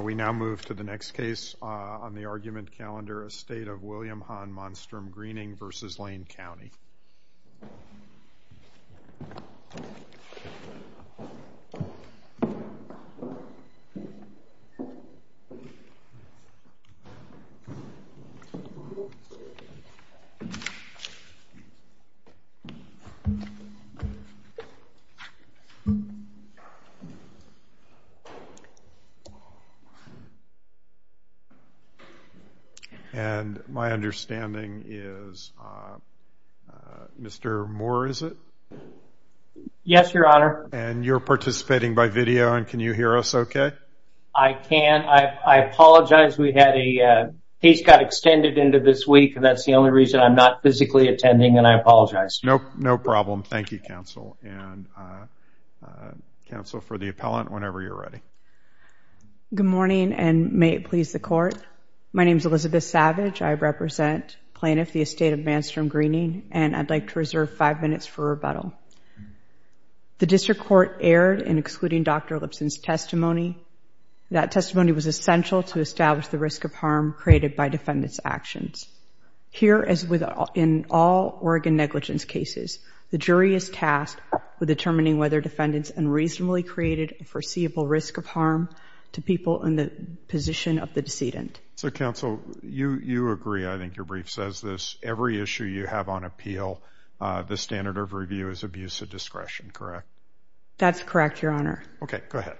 We now move to the next case on the argument calendar, Estate of William Han Manstrom-Greening v. Lane County. And my understanding is Mr. Moore, is it? Yes, your honor. And you're participating by video and can you hear us okay? I can. I apologize. We had a case got extended into this week and that's the only reason I'm not physically attending and I apologize. No problem. Thank you, counsel. And counsel, for the appellant, whenever you're ready. Good morning and may it please the court. My name is Elizabeth Savage. I represent plaintiff, the Estate of Manstrom-Greening, and I'd like to reserve five minutes for rebuttal. The district court erred in excluding Dr. Lipson's testimony. That testimony was essential to establish the risk of harm created by defendant's actions. Here, as in all Oregon negligence cases, the jury is tasked with determining whether the defendant's unreasonably created foreseeable risk of harm to people in the position of the decedent. So, counsel, you agree. I think your brief says this. Every issue you have on appeal, the standard of review is abuse of discretion, correct? That's correct, your honor. Okay, go ahead.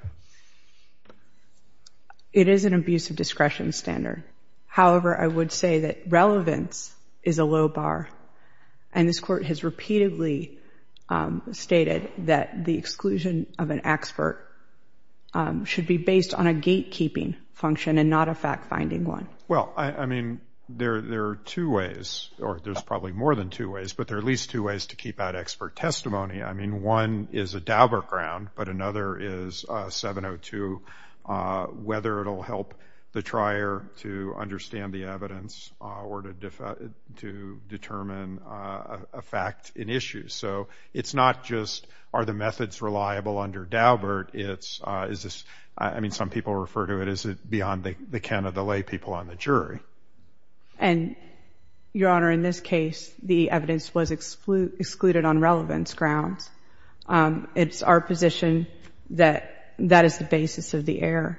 It is an abuse of discretion standard. However, I would say that relevance is a low bar. And this court has repeatedly stated that the exclusion of an expert should be based on a gatekeeping function and not a fact-finding one. Well, I mean, there are two ways, or there's probably more than two ways, but there are at least two ways to keep out expert testimony. I mean, one is a Dauberk round, but another is 702, whether it will help the trier to understand the evidence or to determine a fact in issue. So it's not just are the methods reliable under Dauberk. I mean, some people refer to it as beyond the can of the lay people on the jury. And, your honor, in this case, the evidence was excluded on relevance grounds. It's our position that that is the basis of the error.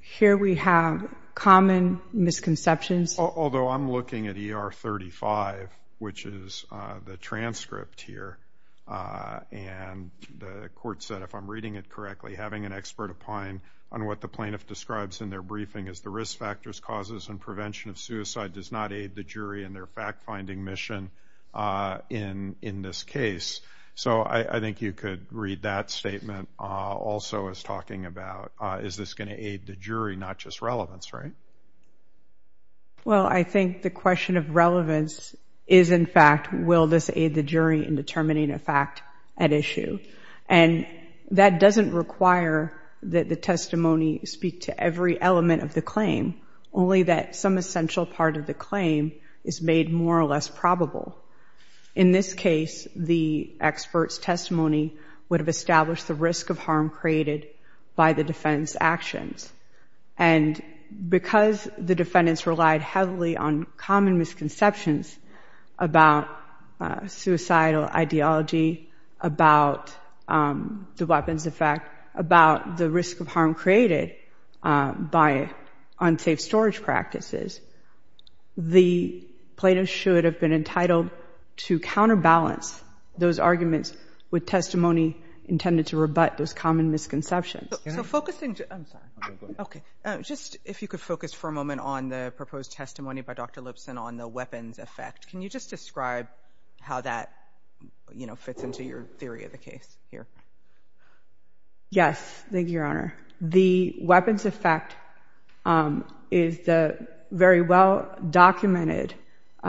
Here we have common misconceptions. Although I'm looking at ER 35, which is the transcript here, and the court said if I'm reading it correctly, having an expert opine on what the plaintiff describes in their briefing as the risk factors, causes, and prevention of suicide does not aid the jury in their fact-finding mission in this case. So I think you could read that statement also as talking about is this going to aid the jury, not just relevance, right? Well, I think the question of relevance is, in fact, will this aid the jury in determining a fact at issue? And that doesn't require that the testimony speak to every element of the claim, only that some essential part of the claim is made more or less probable. In this case, the expert's testimony would have established the risk of harm created by the defendant's actions. And because the defendants relied heavily on common misconceptions about suicidal ideology, about the weapons effect, about the risk of harm created by unsafe storage practices, the plaintiff should have been entitled to counterbalance those arguments with testimony intended to rebut those common misconceptions. Just if you could focus for a moment on the proposed testimony by Dr. Lipson on the weapons effect, can you just describe how that, you know, fits into your theory of the case here? Yes, thank you, Your Honor. The weapons effect is the very well-documented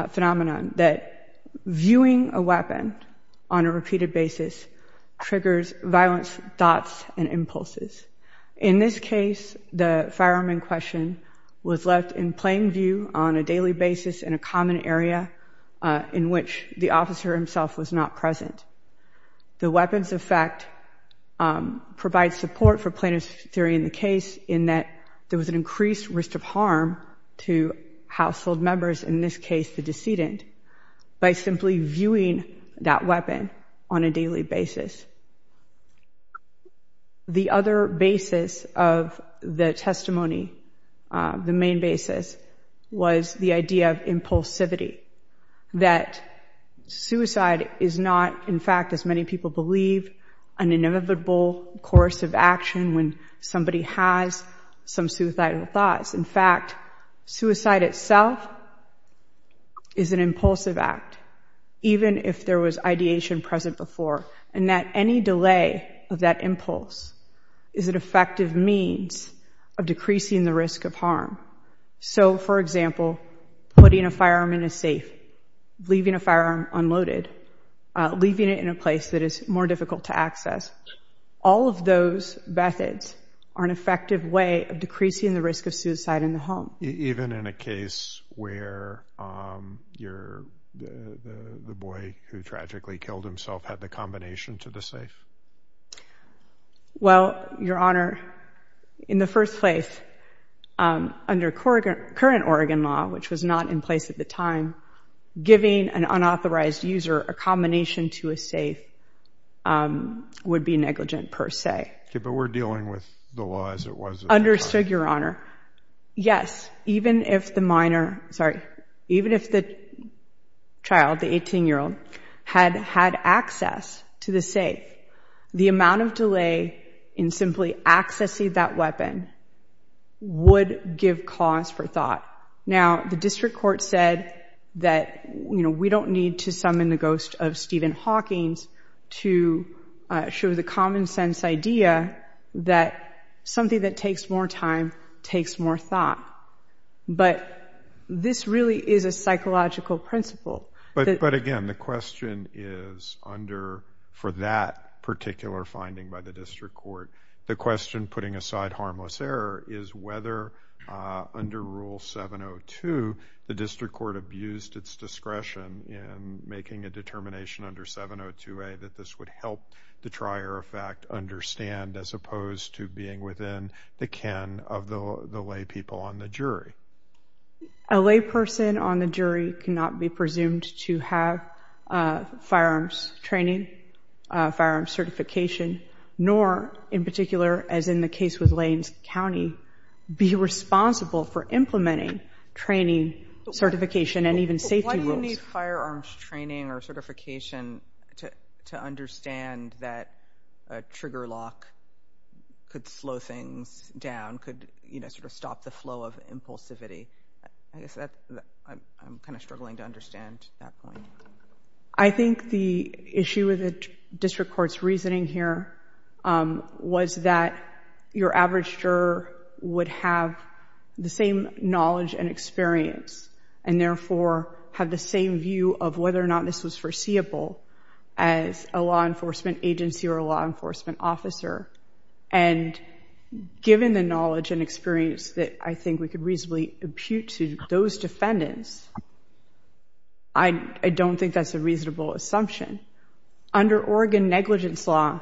phenomenon that viewing a weapon on a repeated basis triggers violence thoughts and impulses. In this case, the firearm in question was left in plain view on a daily basis in a common area in which the officer himself was not present. The weapons effect provides support for plaintiff's theory in the case in that there was an increased risk of harm to household members, in this case the decedent, by simply viewing that weapon on a daily basis. The other basis of the testimony, the main basis, was the idea of impulsivity, that suicide is not, in fact, as many people believe, an inevitable course of action when somebody has some suicidal thoughts. In fact, suicide itself is an impulsive act, even if there was ideation present before, and that any delay of that impulse is an effective means of decreasing the risk of harm. So, for example, putting a firearm in a safe, leaving a firearm unloaded, leaving it in a place that is more difficult to access, all of those methods are an effective way of decreasing the risk of suicide in the home. Even in a case where the boy who tragically killed himself had the combination to the safe? Well, Your Honor, in the first place, under current Oregon law, which was not in place at the time, giving an unauthorized user a combination to a safe would be negligent per se. Okay, but we're dealing with the law as it was in place. Understood, Your Honor. Yes, even if the minor, sorry, even if the child, the 18-year-old, had had access to the safe, the amount of delay in simply accessing that weapon would give cause for thought. Now, the district court said that, you know, something that takes more time takes more thought. But this really is a psychological principle. But, again, the question is under, for that particular finding by the district court, the question, putting aside harmless error, is whether, under Rule 702, the district court abused its discretion in making a determination under 702A that this would help the trier of fact understand, as opposed to being within the ken of the lay people on the jury. A lay person on the jury cannot be presumed to have firearms training, firearms certification, nor, in particular, as in the case with Lane County, be responsible for implementing training, certification, and even safety rules. Any firearms training or certification to understand that a trigger lock could slow things down, could, you know, sort of stop the flow of impulsivity? I guess I'm kind of struggling to understand that point. I think the issue with the district court's reasoning here was that your average juror would have the same knowledge and experience and, therefore, have the same view of whether or not this was foreseeable as a law enforcement agency or a law enforcement officer. And given the knowledge and experience that I think we could reasonably impute to those defendants, I don't think that's a reasonable assumption. Under Oregon negligence law,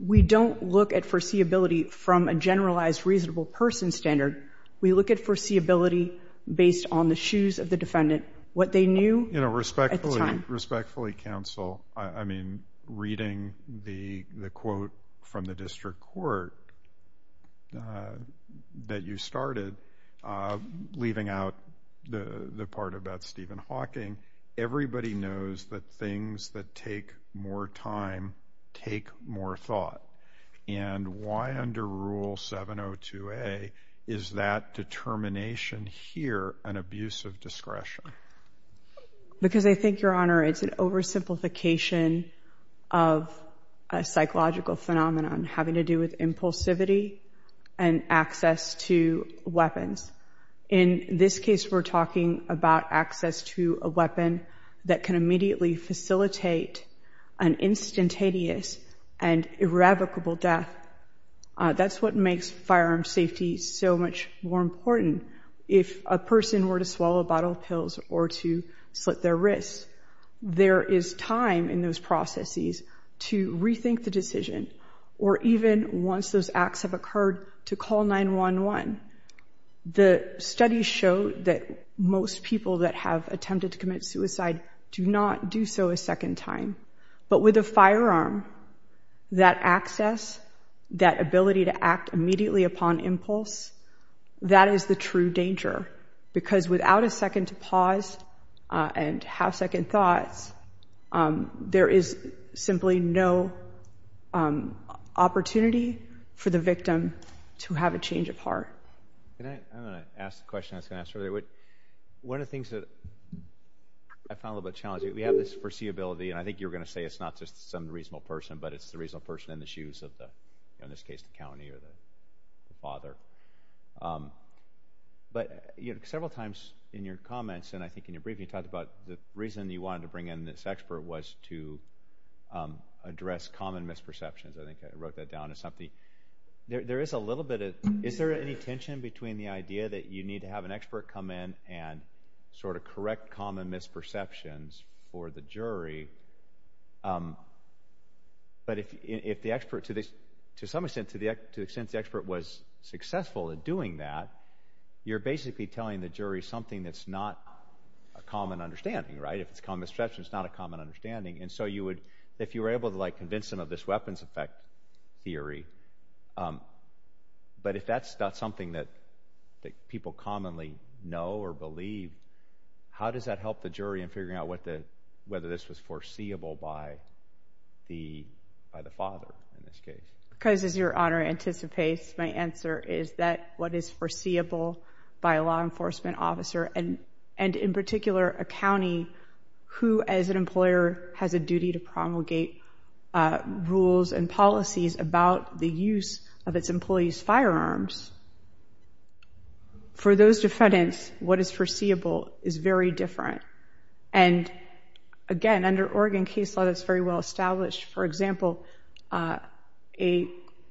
we don't look at foreseeability from a generalized reasonable person standard. We look at foreseeability based on the shoes of the defendant, what they knew at the time. You know, respectfully, counsel, I mean, reading the quote from the district court that you started, leaving out the part about Stephen Hawking, everybody knows that things that take more time take more thought. And why under Rule 702A is that determination here an abuse of discretion? Because I think, Your Honor, it's an oversimplification of a psychological phenomenon having to do with impulsivity and access to weapons. In this case, we're talking about access to a weapon that can immediately facilitate an instantaneous and irrevocable death. That's what makes firearm safety so much more important. If a person were to swallow a bottle of pills or to slit their wrists, there is time in those processes to rethink the decision, or even once those acts have occurred, to call 911. The studies show that most people that have attempted to commit suicide do not do so a second time. But with a firearm, that access, that ability to act immediately upon impulse, that is the true danger. Because without a second to pause and have second thoughts, there is simply no opportunity for the victim to have a change of heart. I'm going to ask the question I was going to ask earlier. One of the things that I found a little bit challenging, we have this foreseeability, and I think you were going to say it's not just some reasonable person, but it's the reasonable person in the shoes of the, in this case, the county or the father. But several times in your comments, and I think in your briefing, you talked about the reason you wanted to bring in this expert was to address common misperceptions. I think I wrote that down as something. Is there any tension between the idea that you need to have an expert come in and correct common misperceptions for the jury? But if the expert, to some extent, to the extent the expert was successful in doing that, you're basically telling the jury something that's not a common understanding, right? If it's a common misperception, it's not a common understanding. If you were able to convince them of this weapons effect theory, but if that's not something that people commonly know or believe, how does that help the jury in figuring out whether this was foreseeable by the father in this case? Because, as your Honor anticipates, my answer is that what is foreseeable by a law enforcement officer, and in particular, a county who, as an employer, has a duty to promulgate rules and policies about the use of its employees' firearms, for those defendants, what is foreseeable is very different. And again, under Oregon case law, that's very well established. For example, a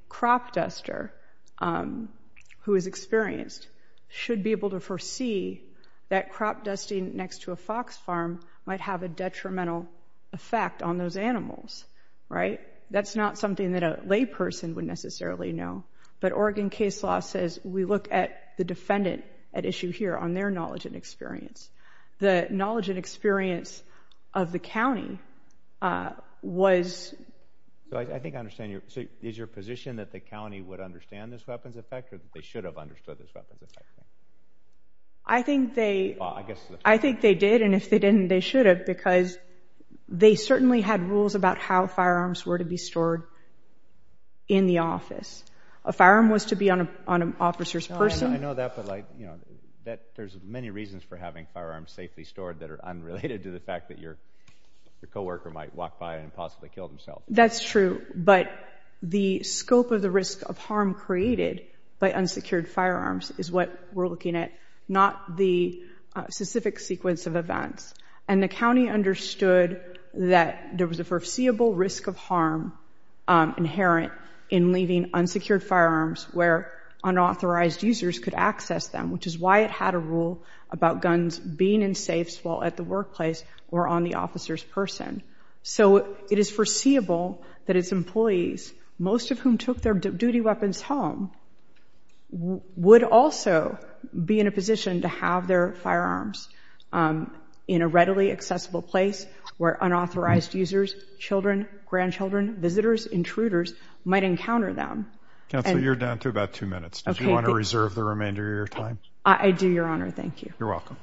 crop duster who is experienced should be able to foresee that crop dusting next to a fox farm might have a detrimental effect on those animals, right? That's not something that a lay person would necessarily know, but Oregon case law says we look at the defendant at issue here on their knowledge and experience. The knowledge and experience of the county was I think I understand. Is your position that the county would understand this weapons effect or that they should have understood this weapons effect? I think they I think they did, and if they didn't, they should have, because they certainly had rules about how firearms were to be stored in the office. A firearm was to be on an officer's person. I know that, but there's many reasons for having firearms safely stored that are unrelated to the fact that your co-worker might walk by and possibly kill themselves. That's true, but the scope of the risk of harm created by unsecured firearms is what we're looking at, not the specific sequence of events. And the county understood that there was a foreseeable risk of harm inherent in leaving unsecured firearms where unauthorized users could access them, which is why it had a rule about guns being in safes while at the workplace or on the officer's person. So it is foreseeable that its employees, most of whom took their duty weapons home, would also be in a position to have their firearms in a readily accessible place where unauthorized users, children, grandchildren, visitors, intruders, might encounter them. Counsel, you're down to about two minutes. Do you want to reserve the remainder of your time? I do, Your Honor. Thank you. You're welcome.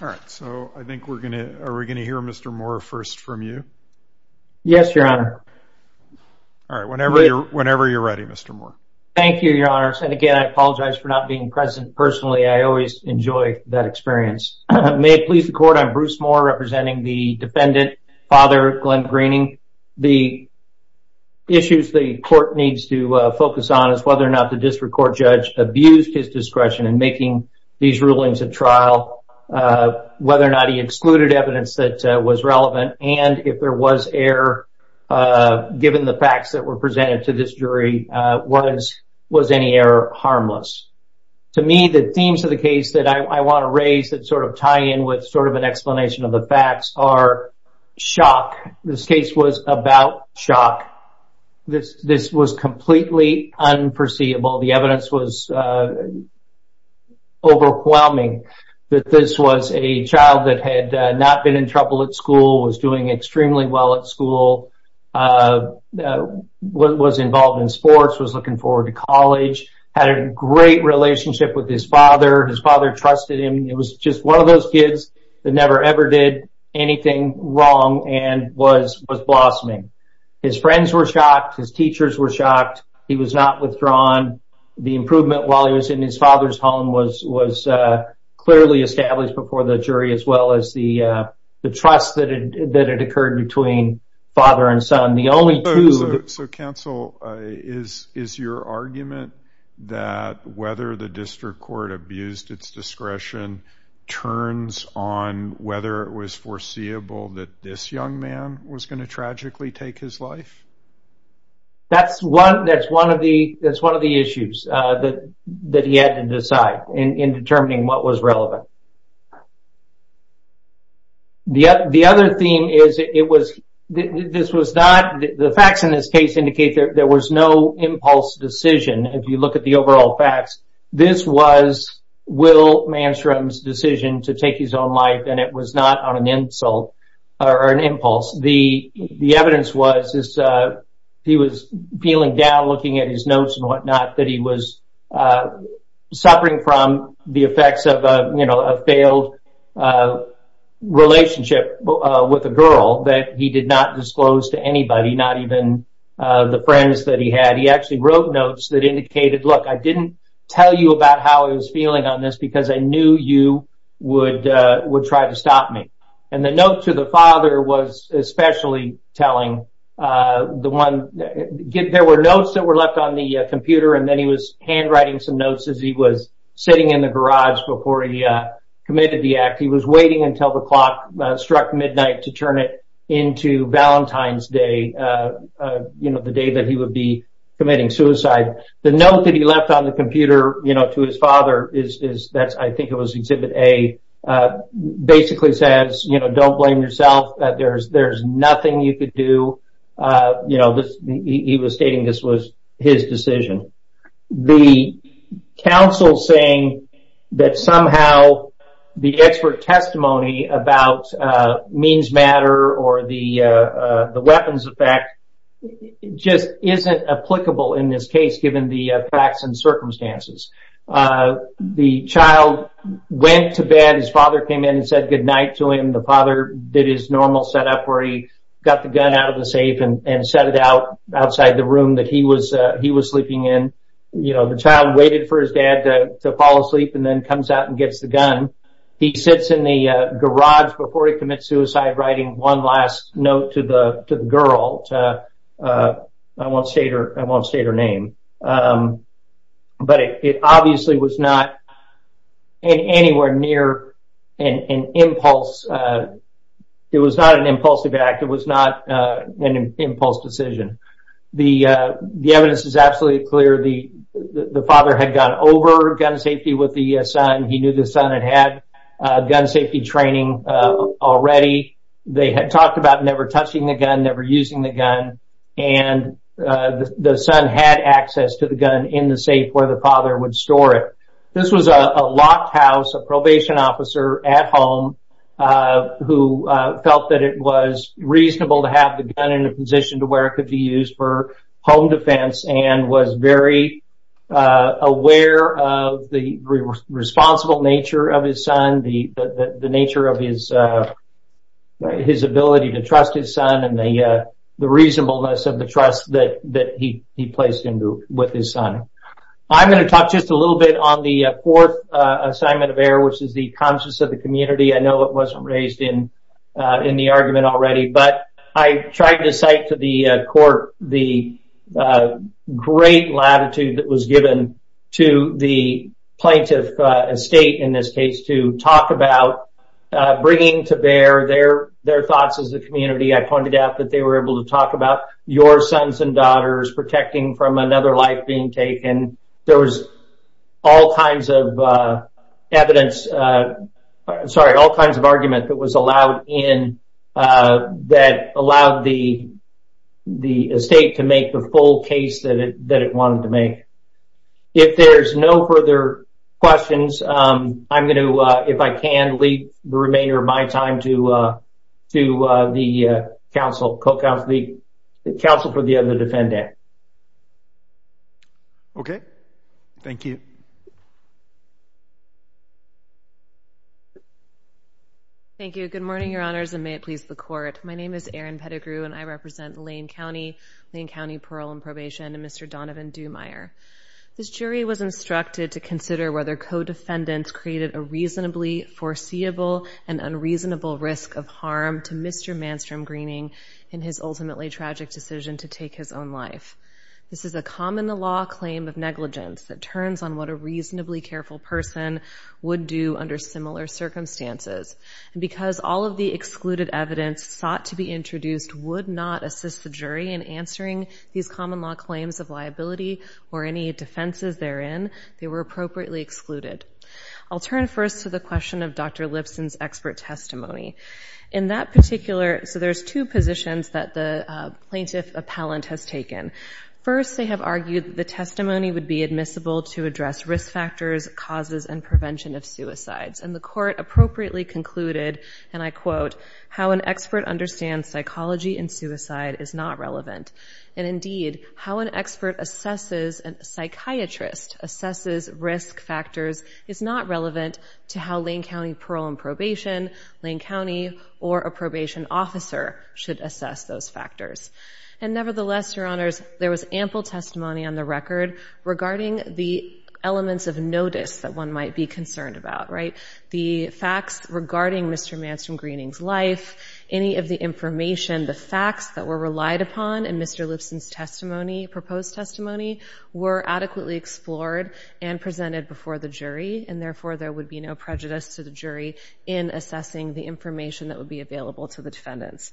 Alright, so I think we're going to hear Mr. Moore first from you. Yes, Your Honor. Alright, whenever you're ready, Mr. Moore. Thank you, Your Honors. And again, I apologize for not being present personally. I always enjoy that experience. May it please the Court, I'm Bruce Moore representing the defendant, Father Glenn Greening. The issues the Court needs to focus on is whether or not the district court judge abused his discretion in making these rulings at trial, whether or not he excluded evidence that was relevant, and if there was error given the facts that were presented to this jury, was any error harmless? To me, the themes of the case that I want to raise that sort of tie in with sort of an explanation of the facts are shock. This case was about shock. This was completely unperceivable. The evidence was overwhelming that this was a child that had not been in trouble at school, was doing extremely well at school, was involved in sports, was looking forward to college, had a great relationship with his father. His father trusted him. It was just one of those kids that never, ever did anything wrong and was blossoming. His friends were shocked. His teachers were shocked. He was not withdrawn. The improvement while he was in his father's home was clearly established before the jury, as well as the trust that had occurred between father and son. The only two... So, Counsel, is your argument that whether the district court abused its discretion turns on whether it was foreseeable that this young man was going to tragically take his life? That's one of the issues that he had to decide in determining what was relevant. The other theme is the facts in this case indicate there was no impulse decision. If you look at the overall facts, this was Will Manstrom's decision to take his own life and it was not on an insult or an impulse. The evidence was he was peeling down, looking at his notes and what not, that he was suffering from the effects of a failed relationship with a girl that he did not disclose to anybody, not even the friends that he had. He actually wrote notes that indicated, look, I didn't tell you about how I was feeling on this because I knew you would try to stop me. And the note to the father was especially telling... There were notes that were left on the computer and then he was handwriting some notes as he was sitting in the garage before he committed the act. He was waiting until the clock struck midnight to turn it into Valentine's Day, the day that he would be committing suicide. The note that he left on the computer to his father, I think it was exhibit A, basically says, don't blame yourself, there's nothing you could do. He was stating this was his decision. The counsel saying that somehow the expert testimony about means matter or the weapons effect just isn't applicable in this case given the facts and circumstances. The child went to bed, his father came in and said goodnight to him. The father did his normal setup where he got the gun out of the safe and set it out outside the room that he was sleeping in. The child waited for his dad to fall asleep and then comes out and gets the gun. He sits in the garage before he commits suicide writing one last note to the name. But it obviously was not anywhere near an impulse. It was not an impulsive act. It was not an impulse decision. The evidence is absolutely clear. The father had gone over gun safety with the son. He knew the son had had gun safety training already. They had talked about never touching the gun, never using the gun, and the son had access to the gun in the safe where the father would store it. This was a locked house, a probation officer at home who felt that it was reasonable to have the gun in a position to where it could be used for home defense and was very aware of the responsible nature of his son, the nature of his ability to trust his son, and the reasonableness of the trust that he placed into with his son. I'm going to talk just a little bit on the fourth assignment of error, which is the conscience of the community. I know it wasn't raised in the argument already, but I tried to cite to the court the great latitude that was given to the plaintiff estate in this case to talk about bringing to bear their thoughts as a community. I pointed out that they were able to talk about your sons and daughters protecting from another life being taken. There was all kinds of argument that was allowed in that allowed the estate to make the full case that it wanted to make. If there's no further questions, I'm going to, if I can, leave the remainder of my time to the counsel for the other defendant. Okay. Thank you. Thank you. Good morning, your honors, and may it please the court. My name is Erin Pettigrew, and I represent Lane County, Lane County Parole and Probation, and Mr. Donovan Dumeier. This jury was instructed to consider whether co-defendants created a reasonably foreseeable and unreasonable risk of harm to Mr. Manstrom Greening in his ultimately tragic decision to do what a reasonably careful person would do under similar circumstances. And because all of the excluded evidence sought to be introduced would not assist the jury in answering these common law claims of liability or any defenses therein, they were appropriately excluded. I'll turn first to the question of Dr. Lipson's expert testimony. In that particular, so there's two positions that the plaintiff appellant has taken. First, they have argued that the testimony would be admissible to address risk factors, causes, and prevention of suicides. And the court appropriately concluded, and I quote, how an expert understands psychology in suicide is not relevant. And indeed, how an expert assesses, a psychiatrist assesses risk factors is not relevant to how Lane County Parole and Probation, Lane County or a probation officer should assess those factors. And nevertheless, Your Honors, there was ample testimony on the record regarding the elements of notice that one might be concerned about, right? The facts regarding Mr. Manstrom Greening's life, any of the information, the facts that were relied upon in Mr. Lipson's testimony, proposed testimony, were adequately explored and presented before the jury. And therefore, there would be no prejudice to the jury in assessing the information that would be available to the defendants.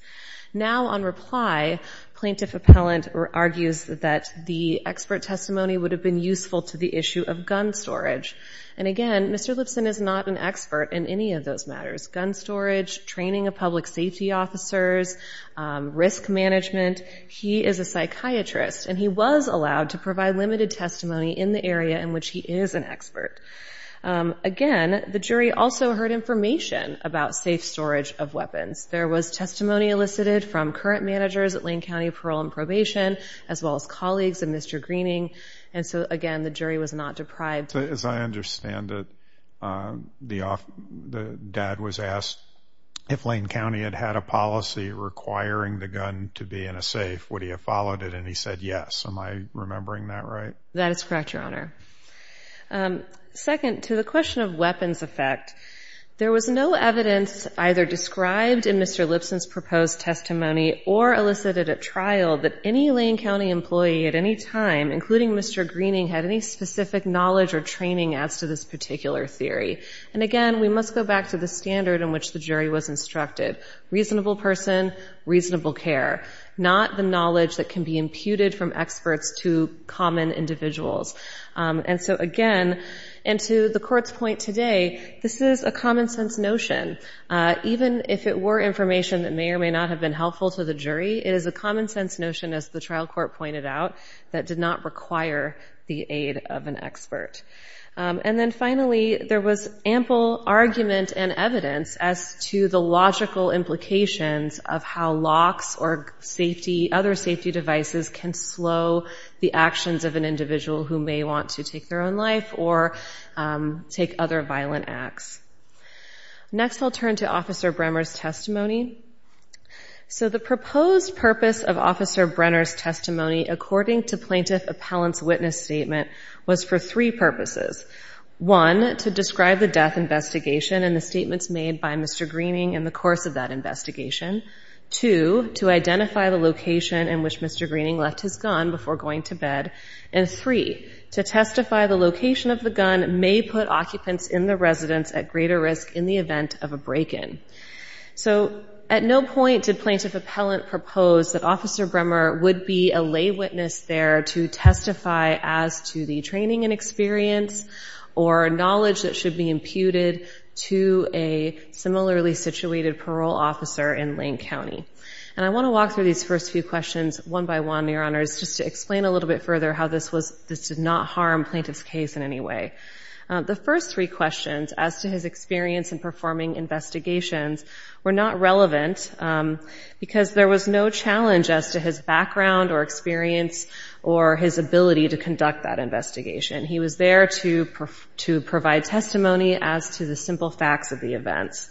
Now on reply, plaintiff appellant argues that the expert testimony would have been useful to the issue of gun storage. And again, Mr. Lipson is not an expert in any of those matters. Gun storage, training of public safety officers, risk management. He is a psychiatrist and he was allowed to provide limited testimony in the area in which he is an expert. Again, the jury also heard information about safe storage of weapons. There was testimony elicited from current managers at Lane County Parole and Probation, as well as colleagues of Mr. Greening. And so again, the jury was not deprived. As I understand it, the dad was safe. Would he have followed it? And he said yes. Am I remembering that right? That is correct, Your Honor. Second, to the question of weapons effect, there was no evidence either described in Mr. Lipson's proposed testimony or elicited at trial that any Lane County employee at any time, including Mr. Greening, had any specific knowledge or training as to this particular theory. And again, we must go back to the standard in which the jury was instructed. Reasonable person, reasonable care. Not the knowledge that can be imputed from experts to common individuals. And so again, and to the Court's point today, this is a common sense notion. Even if it were information that may or may not have been helpful to the jury, it is a common sense notion, as the trial court pointed out, that did not require the aid of an expert. And then finally, there was ample argument and evidence as to the logical implications of how locks or other safety devices can slow the actions of an individual who may want to take their own life or take other violent acts. Next I'll turn to Officer Bremmer's testimony. So the proposed purpose of Officer Bremmer's testimony is for two purposes. One, to describe the death investigation and the statements made by Mr. Greening in the course of that investigation. Two, to identify the location in which Mr. Greening left his gun before going to bed. And three, to testify the location of the gun may put occupants in the residence at greater risk in the event of a break-in. So at no point did Plaintiff Appellant propose that Officer Bremmer's testimony be based on experience or knowledge that should be imputed to a similarly situated parole officer in Lane County. And I want to walk through these first few questions one by one, Your Honors, just to explain a little bit further how this did not harm Plaintiff's case in any way. The first three questions, as to his experience in performing investigations, were not relevant because there was no challenge as to his failure to provide testimony as to the simple facts of the events.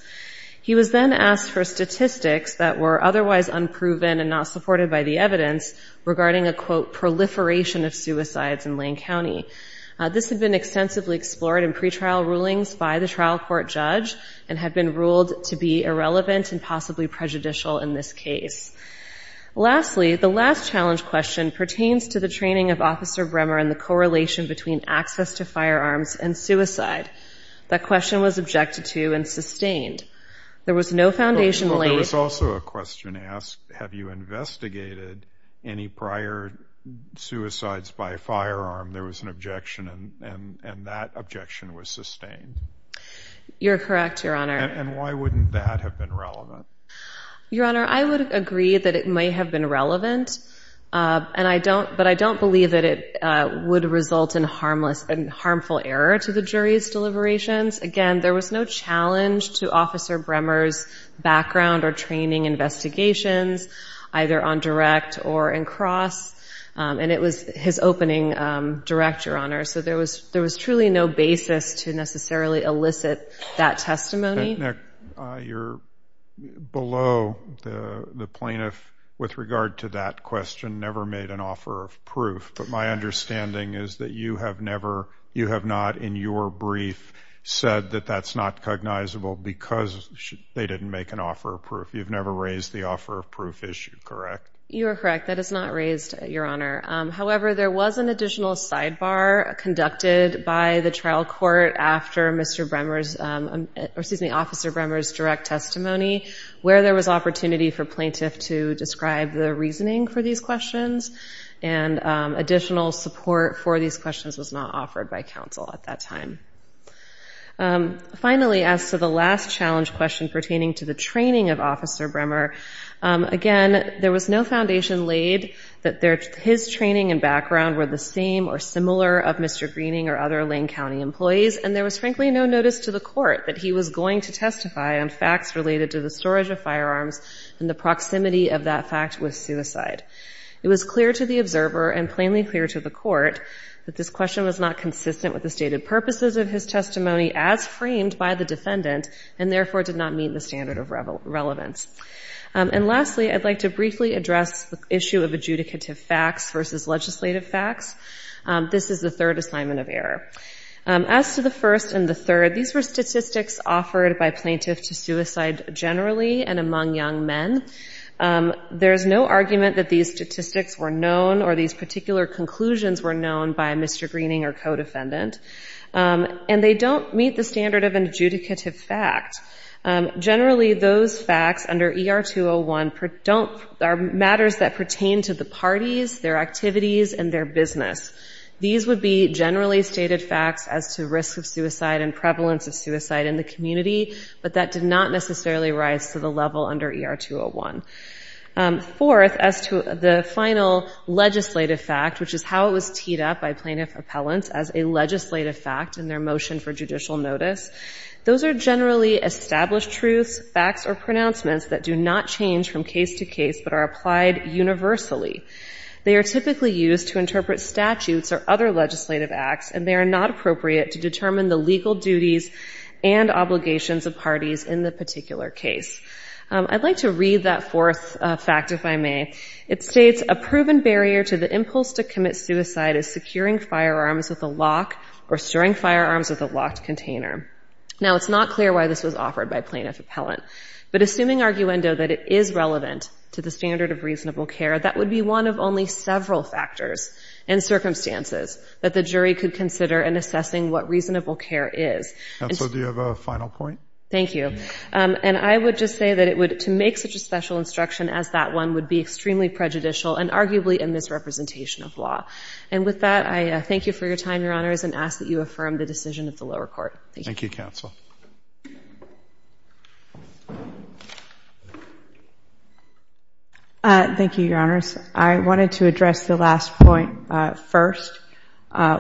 He was then asked for statistics that were otherwise unproven and not supported by the evidence regarding a, quote, proliferation of suicides in Lane County. This had been extensively explored in pretrial rulings by the trial court judge and had been ruled to be irrelevant and possibly prejudicial in this case. Lastly, the last challenge question pertains to the training of Officer Bremmer and the correlation between access to firearms and suicide. That question was objected to and sustained. There was no foundation laid... There was also a question asked, have you investigated any prior suicides by firearm? There was an objection, and that objection was sustained. You're correct, Your Honor. And why wouldn't that have been relevant? Your Honor, I would agree that it may have been relevant, but I don't believe that it would result in harmful error to the jury's deliberations. Again, there was no challenge to Officer Bremmer's background or training investigations, either on direct or in cross, and it was his opening direct, Your Honor. So there was truly no below the plaintiff with regard to that question never made an offer of proof. But my understanding is that you have never, you have not in your brief said that that's not cognizable because they didn't make an offer of proof. You've never raised the offer of proof issue, correct? You are correct. That is not raised, Your Honor. However, there was an additional sidebar conducted by the testimony where there was opportunity for plaintiff to describe the reasoning for these questions, and additional support for these questions was not offered by counsel at that time. Finally, as to the last challenge question pertaining to the training of Officer Bremmer, again, there was no foundation laid that his training and background were the same or similar of Mr. Greening or other Lane County employees, and there was frankly no notice to the court that he was going to testify on facts related to the storage of firearms and the proximity of that fact with suicide. It was clear to the observer and plainly clear to the court that this question was not consistent with the stated purposes of his testimony as framed by the defendant, and therefore did not meet the standard of relevance. And lastly, I'd like to briefly address the issue of adjudicative facts versus legislative facts. This is the third assignment of error. As to the first and the third, these were statistics offered by plaintiffs to suicide generally and among young men. There is no argument that these statistics were known or these particular conclusions were known by Mr. Greening or co-defendant, and they don't meet the standard of an adjudicative fact. Generally, those would be their identities, their activities, and their business. These would be generally stated facts as to risk of suicide and prevalence of suicide in the community, but that did not necessarily rise to the level under ER-201. Fourth, as to the final legislative fact, which is how it was teed up by plaintiff appellants as a legislative fact in their motion for judicial notice, those are generally established truths, facts, or they are typically used to interpret statutes or other legislative acts, and they are not appropriate to determine the legal duties and obligations of parties in the particular case. I'd like to read that fourth fact, if I may. It states, a proven barrier to the impulse to commit suicide is securing firearms with a lock or storing firearms with a locked container. Now, it's not clear why this was offered by plaintiff appellant, but assuming arguendo that it is relevant to the standard of reasonable care, that would be one of only several factors and circumstances that the jury could consider in assessing what reasonable care is. And so do you have a final point? Thank you. And I would just say that it would, to make such a special instruction as that one, would be extremely prejudicial and arguably a misrepresentation of law. And with that, I thank you for your time, Your Honors, and ask that you close the hearing. Thank you, Your Honors. I wanted to address the last point first,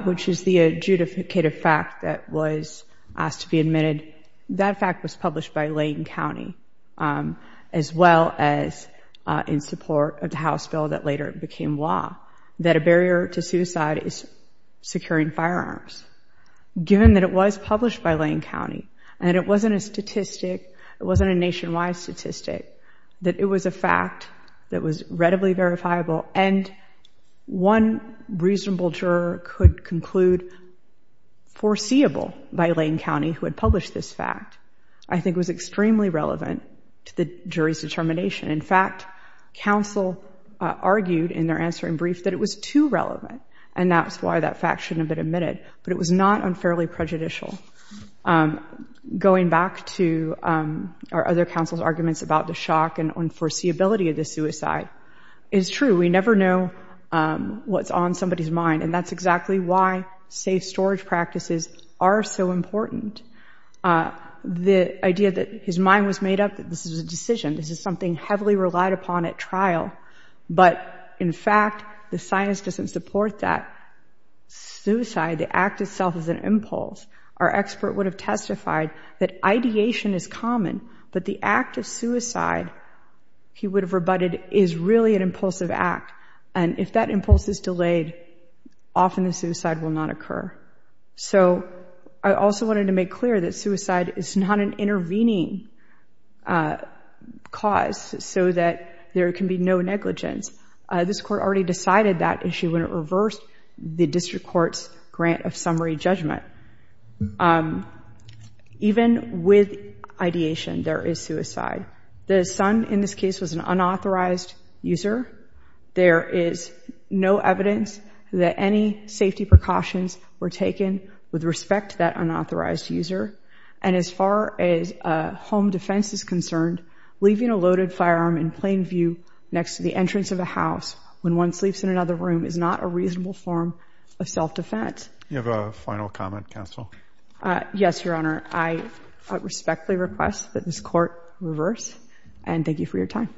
which is the adjudicative fact that was asked to be admitted. That fact was published by Lane County, as well as in support of the House bill that later became law, that a barrier to suicide is securing firearms. Given that it was published by Lane County, and it wasn't a statistic, it wasn't a nationwide statistic, that it was a fact that was readily verifiable, and one reasonable juror could conclude foreseeable by Lane County, who had published this fact, I think was extremely relevant to the jury's determination. In fact, counsel argued in their answering brief that it was too relevant, and that's why that fact shouldn't have been admitted. But it was not unfairly prejudicial. Going back to our other counsel's arguments about the shock and unforeseeability of the suicide, it's true. We never know what's on somebody's mind, and that's exactly why safe storage practices are so important. The idea that his mind was made up, that this was a decision, this is something heavily relied upon at trial, but in fact, the science doesn't support that. Suicide, the act itself is an impulse. Our expert would have testified that ideation is common, but the act of suicide, he would have rebutted, is really an impulsive act, and if that impulse is delayed, often the suicide will not occur. So I also wanted to make clear that suicide is not an intervening cause so that there can be no negligence. This Court already decided that issue when it reversed the District Court's grant of summary judgment. Even with ideation, there is suicide. The son, in this case, was an unauthorized user. There is no evidence that any safety precautions were taken with respect to that unauthorized user, and as far as home defense is concerned, leaving a loaded firearm in plain view next to the entrance of a house when one sleeps in another room is not a reasonable form of self-defense. You have a final comment, Counsel? Yes, Your Honor. I respectfully request that this Court reverse, and thank you for your time.